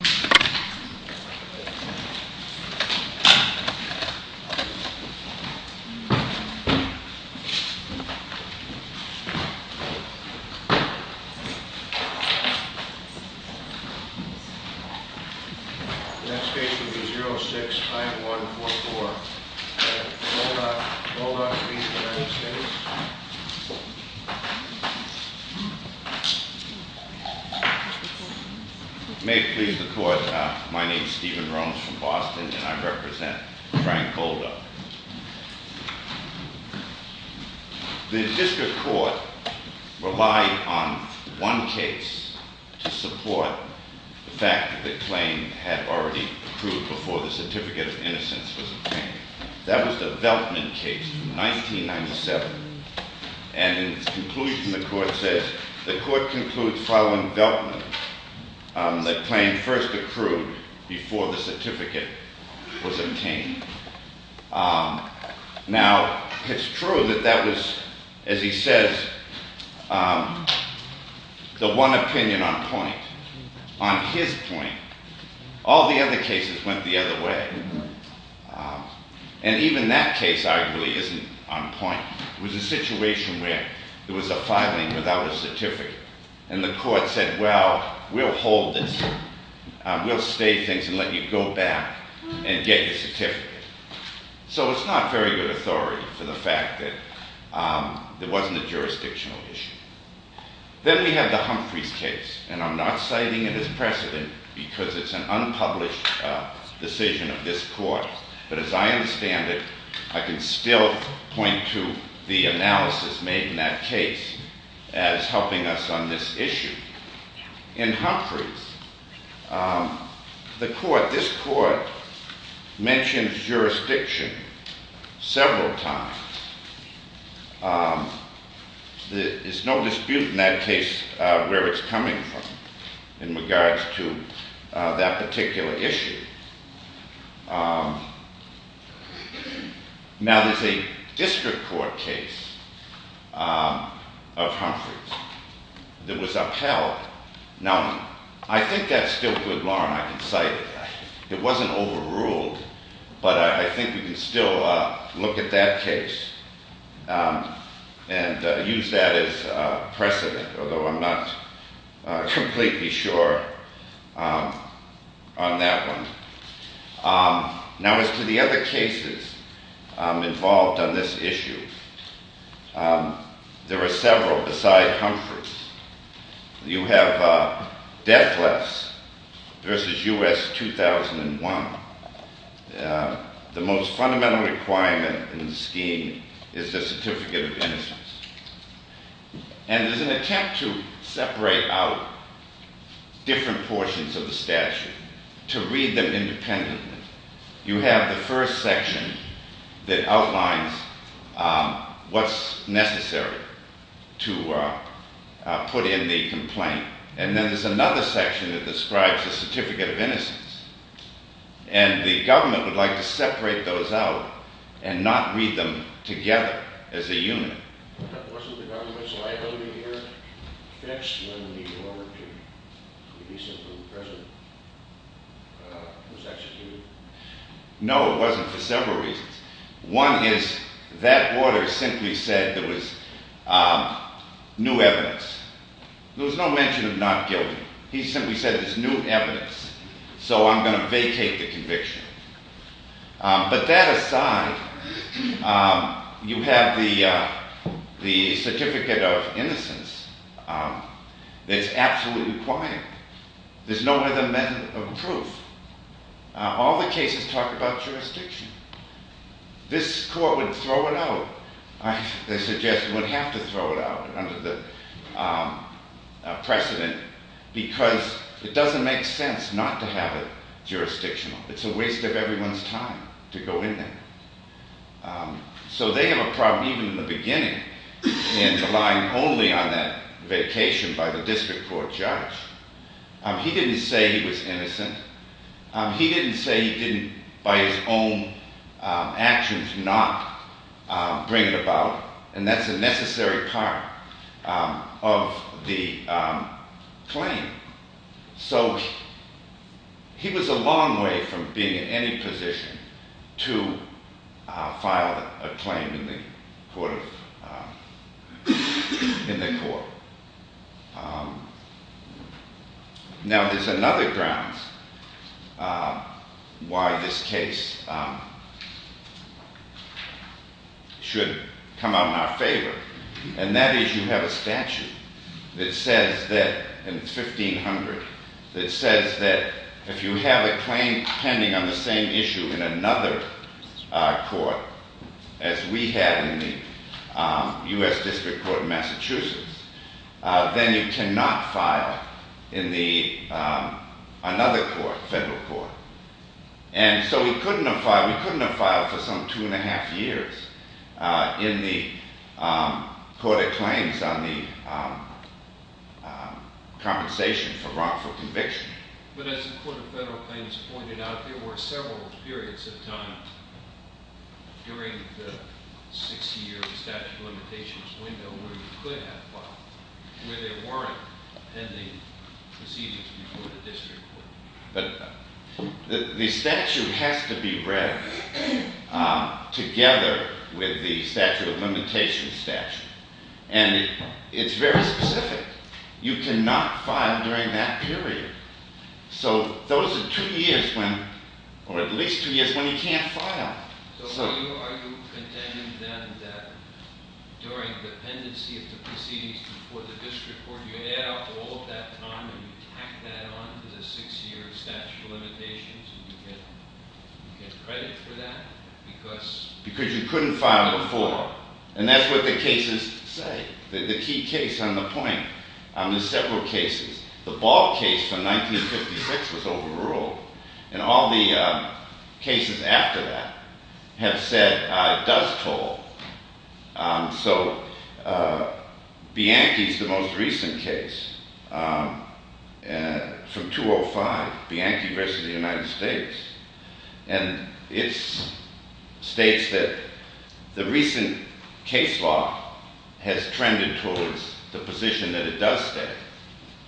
The next case will be 06-5144 at Bulldog v. United States. May it please the Court, my name is Stephen Rhomes from Boston and I represent Frank Bulldog. The District Court relied on one case to support the fact that the claim had already proved before the Certificate of Innocence was obtained. That was the Veltman case from 1997 and in its conclusion the Court says, the Court concludes following Veltman that claim first accrued before the certificate was obtained. Now, it's true that that was, as he says, the one opinion on point. On his point, all the other cases went the other way. And even that case arguably isn't on point. It was a situation where there was a filing without a certificate and the Court said, well, we'll hold this. We'll stay things and let you go back and get your certificate. So it's not very good authority for the fact that it wasn't a jurisdictional issue. Then we have the Humphreys case and I'm not citing it as precedent because it's an unpublished decision of this Court. But as I understand it, I can still point to the analysis made in that case as helping us on this issue. In Humphreys, the Court, this several times. There's no dispute in that case where it's coming from in regards to that particular issue. Now, there's a District Court case of Humphreys that was upheld. Now, I think that's still good law and I can cite it. It wasn't overruled, but I think we can still look at that case and use that as precedent, although I'm not completely sure on that one. Now, as to the other cases involved on this issue, there are several beside Humphreys. You have death less versus U.S. 2001. The most fundamental requirement in the scheme is the certificate of innocence. And there's an attempt to separate out different portions of the statute to read them independently. You have the first section that outlines what's necessary to put in the complaint. And then there's another section that describes the certificate of innocence. And the government would like to separate those out and not read them together as a unit. Wasn't the government's liability here fixed when the order to release him from prison was executed? No, it wasn't for several reasons. One is that order simply said there was new evidence. There was no mention of not guilty. He simply said there's new evidence, so I'm going to vacate the conviction. But that aside, you have the certificate of innocence that's absolutely required. There's no other method of proof. All the cases talk about jurisdiction. This court would throw it out. They suggest it would have to throw it out under the precedent because it doesn't make sense not to have it jurisdictional. It's a waste of everyone's time to go in there. So they have a problem even in the beginning in relying only on that vacation by the district court judge. He didn't say he was innocent. He didn't say he didn't by his own actions not bring it about, and that's a necessary part of the claim. So he was a claim in the court. Now there's another grounds why this case should come out in our favor, and that is you have a statute that says that in 1500, that says that if you have a claim pending on the same issue in another court as we have in the U.S. District Court of Massachusetts, then you cannot file in another court, federal court. And so we couldn't have filed for some two and a half years in the Court of Claims on the compensation for wrongful conviction. But as the Court of Federal Claims pointed out, there were several periods of time during the 60-year statute of limitations window where you could have filed, where there weren't pending proceedings before the district court. But the statute has to be read together with the statute of limitations statute, and it's very specific. You cannot file during that period. So those are two years when, or at least two years when you can't file. So are you contending then that during dependency of the proceedings before the district court you add up all of that time and you tack that on to the six-year statute of limitations and you get credit for that? Because you couldn't file before, and that's what the cases say, the key case on the point. There's several cases. The Ball case from 1956 was overruled, and all the cases after that have said it does toll. So Bianchi's the most recent case from 205, Bianchi v. United States, and it states that the recent case law has trended towards the position that it does stay.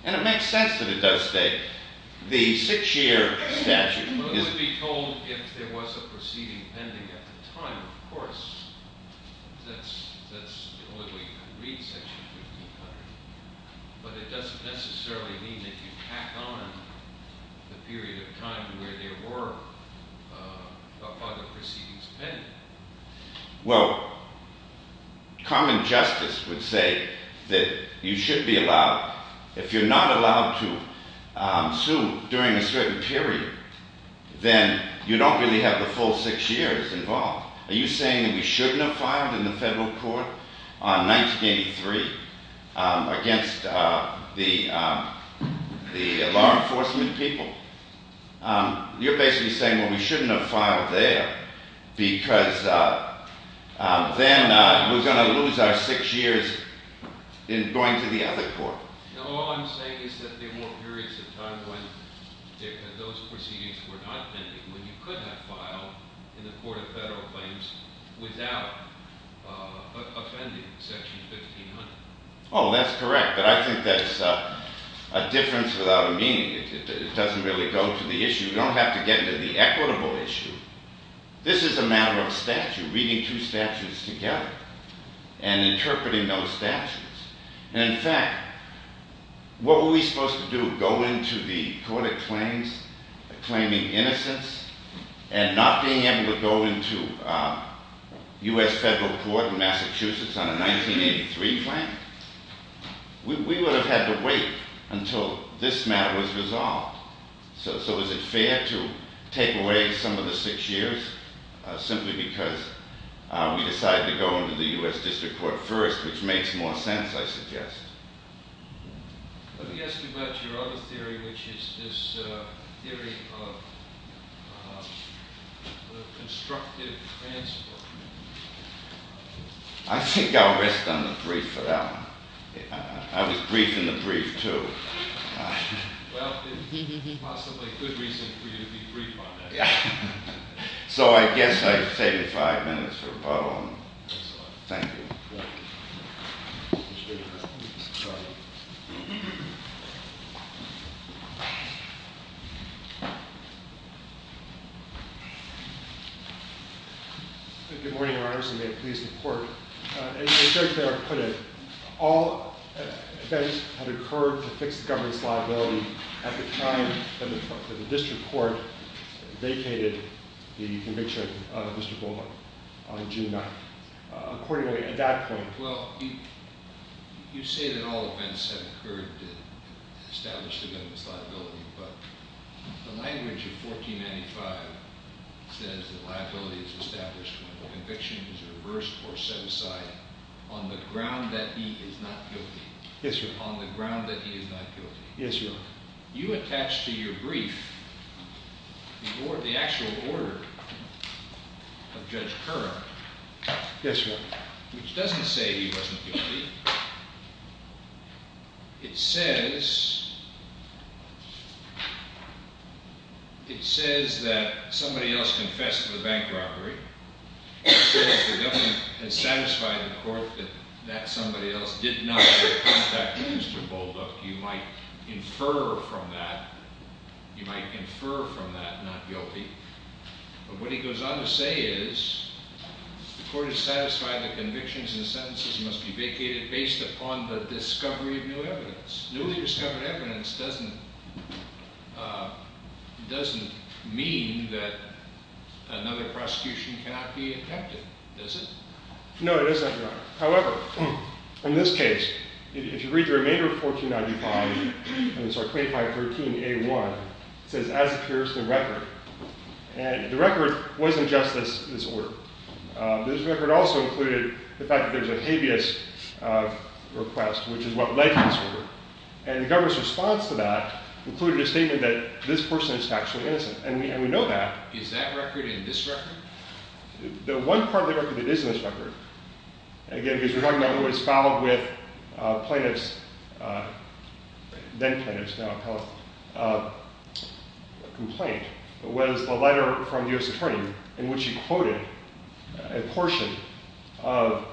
And it makes sense that it does stay. The six-year statute is... Well, it would be told if there was a proceeding pending at the time, of course. That's the only way you can read Section 1500. But it doesn't necessarily mean that you tack on the period of time to where there were other proceedings pending. Well, common justice would say that you should be allowed. If you're not allowed to sue during a certain period, then you don't really have the full six years involved. Are you You're basically saying, well, we shouldn't have filed there because then we're going to lose our six years in going to the other court. No, all I'm saying is that there weren't periods of time when those proceedings were not pending when you could have filed in the Court of Federal Claims without offending Section 1500. Oh, that's correct. But I think that's a difference without a meaning. It doesn't really go to the issue. You don't have to get into the equitable issue. This is a matter of statute, reading two statutes together and interpreting those statutes. In fact, what were we supposed to do? Go into the Court of Claims claiming innocence and not being able to go into U.S. Federal Court in Massachusetts on a 1983 claim? We would have had to wait until this matter was resolved. So is it fair to take away some of the six years simply because we decided to go into the U.S. District Court first, which makes more sense, I suggest. Let me ask you about your other theory, which is this theory of constructive transport. I think I'll rest on the brief for that one. I was brief in the brief too. Well, it's possibly a good reason for you to be brief on that. So I guess I've saved five minutes for Bob. Thank you. Good morning, Your Honors, and may it please the Court. As Judge Barrett put it, all events had occurred to fix the government's liability at the time that the District Court vacated the conviction of Mr. Bullock on June 9th. Accordingly, at that point— Well, you say that all events had occurred to establish the government's liability, but the language of 1495 says that liability is established when the conviction is reversed or set aside on the ground that he is not guilty. Yes, Your Honor. On the ground that he is not guilty. Yes, Your Honor. You attach to your brief the actual order of Judge Kerr— Yes, Your Honor. —which doesn't say he wasn't guilty. It says that somebody else confessed to the bank robbery. It says the government has satisfied the Court that that somebody else did not contact Mr. Bullock. You might infer from that, you might infer from that not guilty. But what he goes on to say is, the Court has satisfied that convictions and sentences must be vacated based upon the discovery of new evidence. Newly discovered evidence doesn't mean that another prosecution cannot be attempted, does it? No, it isn't, Your Honor. However, in this case, if you read the remainder of 1495— And the record wasn't just this order. This record also included the fact that there's a habeas request, which is what led to this order. And the government's response to that included a statement that this person is factually innocent. And we know that. Is that record in this record? The one part of the record that is in this record— Then-plaintiff's complaint was a letter from the U.S. Attorney in which he quoted a portion of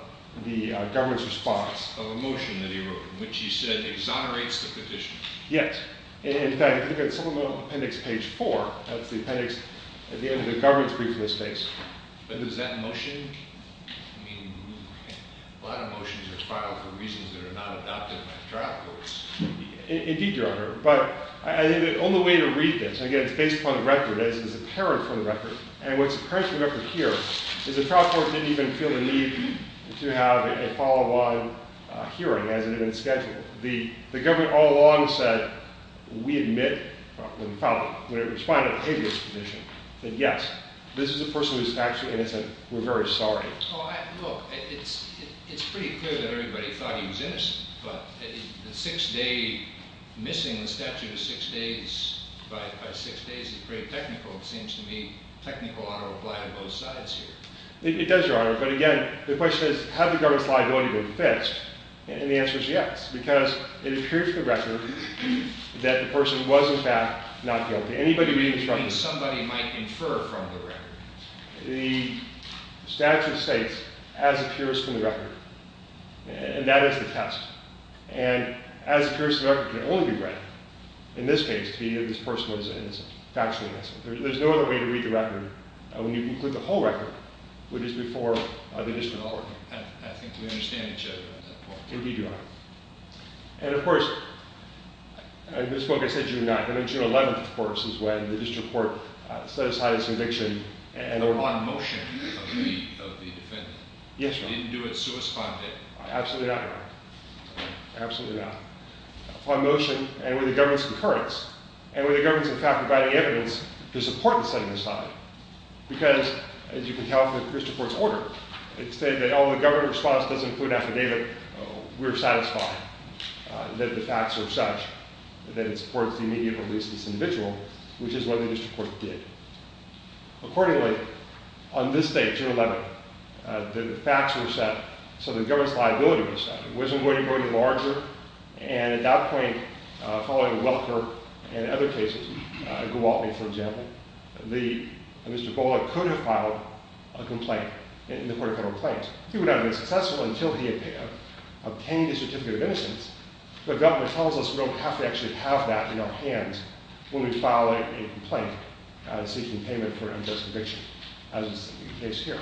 the government's response. Of a motion that he wrote, in which he said, exonerates the petitioner. Yes. In fact, if you look at supplemental appendix page 4, that's the appendix at the end of the government's brief in this case. But does that motion—I mean, a lot of motions are filed for reasons that are not adopted by trial courts. Indeed, Your Honor. But I think the only way to read this—and again, it's based upon the record, as is apparent from the record. And what's apparent from the record here is the trial court didn't even feel the need to have a follow-on hearing, as it had been scheduled. The government all along said, we admit, when it responded to the habeas condition, that yes, this is a person who is factually innocent. We're very sorry. Well, look, it's pretty clear that everybody thought he was innocent. But the six-day—missing the statute of six days by six days is pretty technical. It seems to me technical ought to apply to both sides here. It does, Your Honor. But again, the question is, has the government's liability been fixed? And the answer is yes, because it appears from the record that the person was, in fact, not guilty. Anybody reading this record— Somebody might infer from the record. The statute states, as appears from the record, and that is the test. And as appears from the record, it can only be read. In this case, this person was innocent, factually innocent. There's no other way to read the record when you include the whole record, which is before the district attorney. I think we understand each other at that point. Indeed you are. And, of course, in this book, I said June 9th. I think June 11th, of course, is when the district court set aside its conviction and— Upon motion of the defendant. Yes, Your Honor. It didn't do it suesponded. Absolutely not, Your Honor. Absolutely not. Upon motion, and with the government's concurrence, and with the government's, in fact, providing evidence, the support was set aside because, as you can tell from the district court's order, it stated that, oh, the government response doesn't include an affidavit. We're satisfied that the facts are such that it supports the immediate release of this individual, which is what the district court did. Accordingly, on this date, June 11th, the facts were set so the government's liability was set. It wasn't going to be larger, and at that point, following Welker and other cases, Gowaltney, for example, Mr. Bowler could have filed a complaint in the Court of Federal Claims. He would not have been successful until he had obtained a certificate of innocence, but government tells us we don't have to actually have that in our hands when we file a complaint seeking payment for an unjust conviction, as is the case here.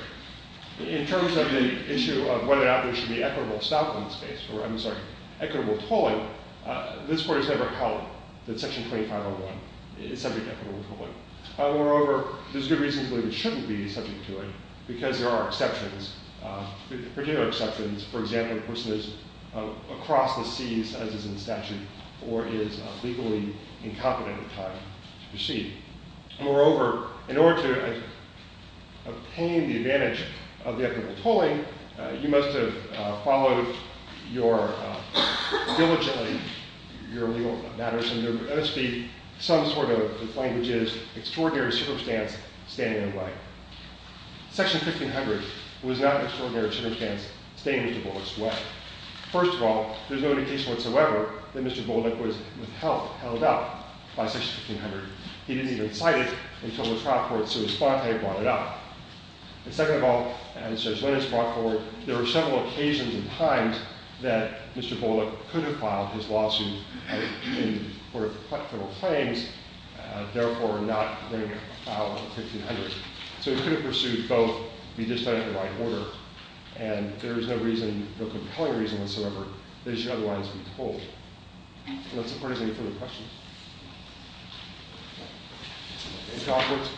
In terms of the issue of whether or not there should be equitable stocking space, or, I'm sorry, equitable tolling, this Court has never held that Section 2501 is subject to equitable tolling. Moreover, there's good reason to believe it shouldn't be subject to it because there are exceptions, particular exceptions, for example, a person is across the seas, as is in statute, or is legally incompetent at the time to proceed. Moreover, in order to obtain the advantage of the equitable tolling, you must have followed diligently your legal matters, and there must be some sort of, as the language is, extraordinary superstance standing in the way. Section 1500 was not an extraordinary superstance standing in Mr. Bowler's way. First of all, there's no indication whatsoever that Mr. Bowler was, with help, held up by Section 1500. He didn't even cite it until the trial court, Sue Esponte, brought it up. And second of all, as Judge Linnitsch brought forward, there were several occasions and times that Mr. Bowler could have filed his lawsuit in order to cut federal claims, therefore not being able to file in 1500. So he could have pursued both, be just done in the right order, and there is no reason, no compelling reason whatsoever that it should otherwise be tolled. And that's as far as any further questions. Any comments?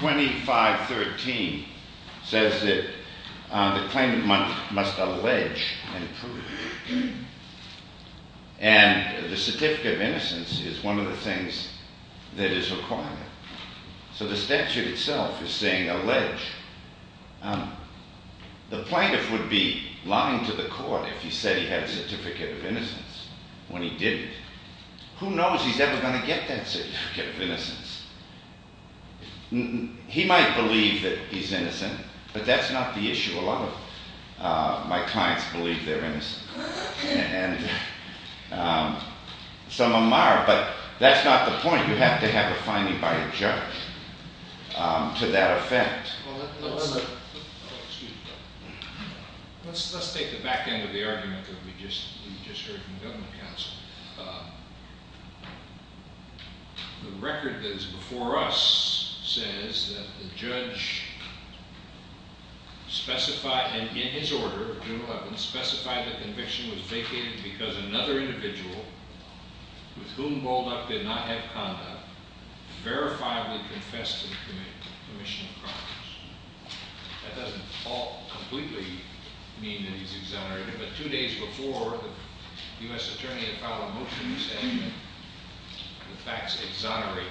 2513 says that the claimant must allege and prove. And the certificate of innocence is one of the things that is required. So the statute itself is saying allege. The plaintiff would be lying to the court if he said he had a certificate of innocence when he didn't. Who knows he's ever going to get that certificate of innocence? He might believe that he's innocent, but that's not the issue. A lot of my clients believe they're innocent, and some of them are, but that's not the point. You have to have a finding by a judge to that effect. Let's take the back end of the argument that we just heard from the government counsel. The record that is before us says that the judge specified, and in his order, specified the conviction was vacated because another individual with whom Bolduc did not have conduct verifiably confessed to the commission of crimes. That doesn't all completely mean that he's exonerated, but two days before, the U.S. attorney had filed motions and the facts exonerate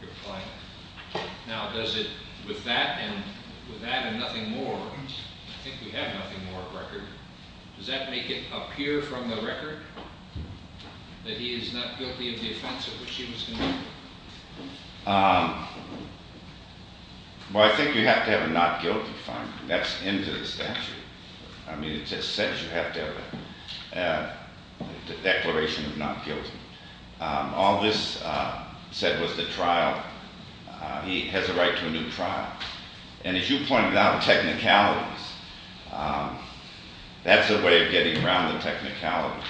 your client. Now, does it, with that and nothing more, I think we have nothing more of record, does that make it appear from the record that he is not guilty of the offense at which he was convicted? Well, I think you have to have a not guilty finding. That's into the statute. I mean, it's essential you have to have a declaration of not guilty. All this said was the trial, he has a right to a new trial. And as you pointed out, technicalities, that's a way of getting around the technicality.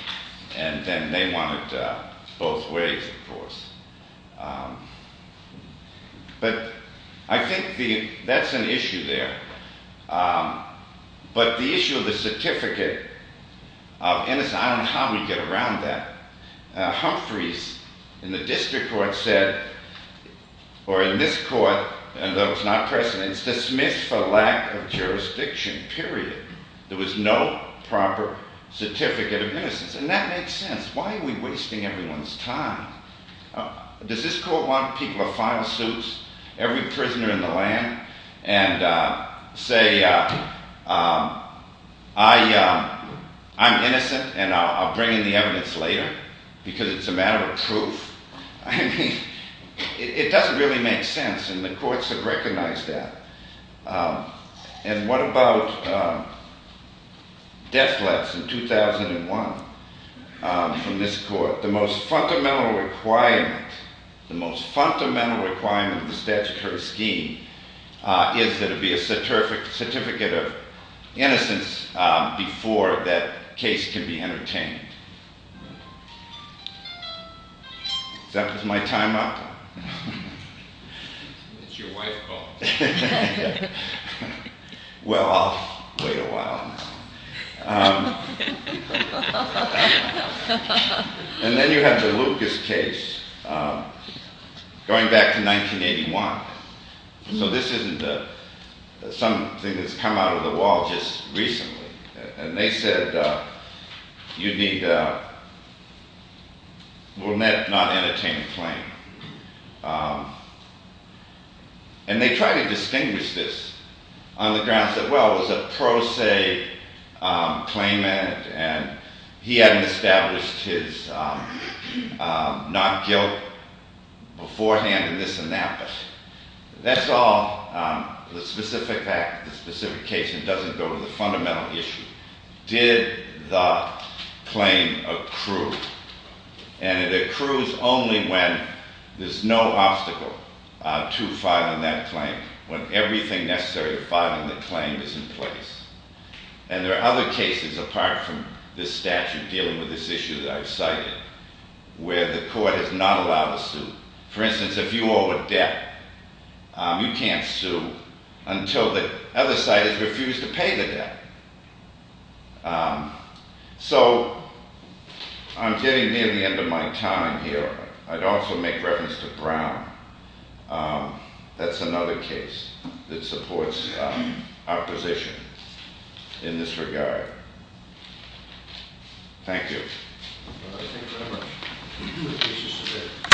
And then they want it both ways, of course. But I think that's an issue there. But the issue of the certificate of innocence, I don't know how we get around that. Humphreys, in the district court, said, or in this court, although it's not precedent, it's dismissed for lack of jurisdiction, period. There was no proper certificate of innocence. And that makes sense. Why are we wasting everyone's time? Does this court want people to file suits, every prisoner in the land, and say, I'm innocent, and I'll bring in the evidence later because it's a matter of proof? I mean, it doesn't really make sense, and the courts have recognized that. And what about death threats in 2001 from this court? The most fundamental requirement, the most fundamental requirement of the statutory scheme is that it be a certificate of innocence before that case can be entertained. Is that my time up? It's your wife's fault. Well, I'll wait a while now. And then you have the Lucas case, going back to 1981. So this isn't something that's come out of the wall just recently. And they said, you need a will not entertain a claim. And they tried to distinguish this on the grounds that, well, there was a pro se claimant, and he had established his not guilt beforehand, and this and that. But that's all the specific case, and it doesn't go to the fundamental issue. Did the claim accrue? And it accrues only when there's no obstacle to filing that claim, when everything necessary to filing the claim is in place. And there are other cases apart from this statute dealing with this issue that I've cited, where the court is not allowed to sue. For instance, if you owe a debt, you can't sue until the other side has refused to pay the debt. So I'm getting near the end of my time here. I'd also make reference to Brown. That's another case that supports our position in this regard. Thank you. Thank you very much.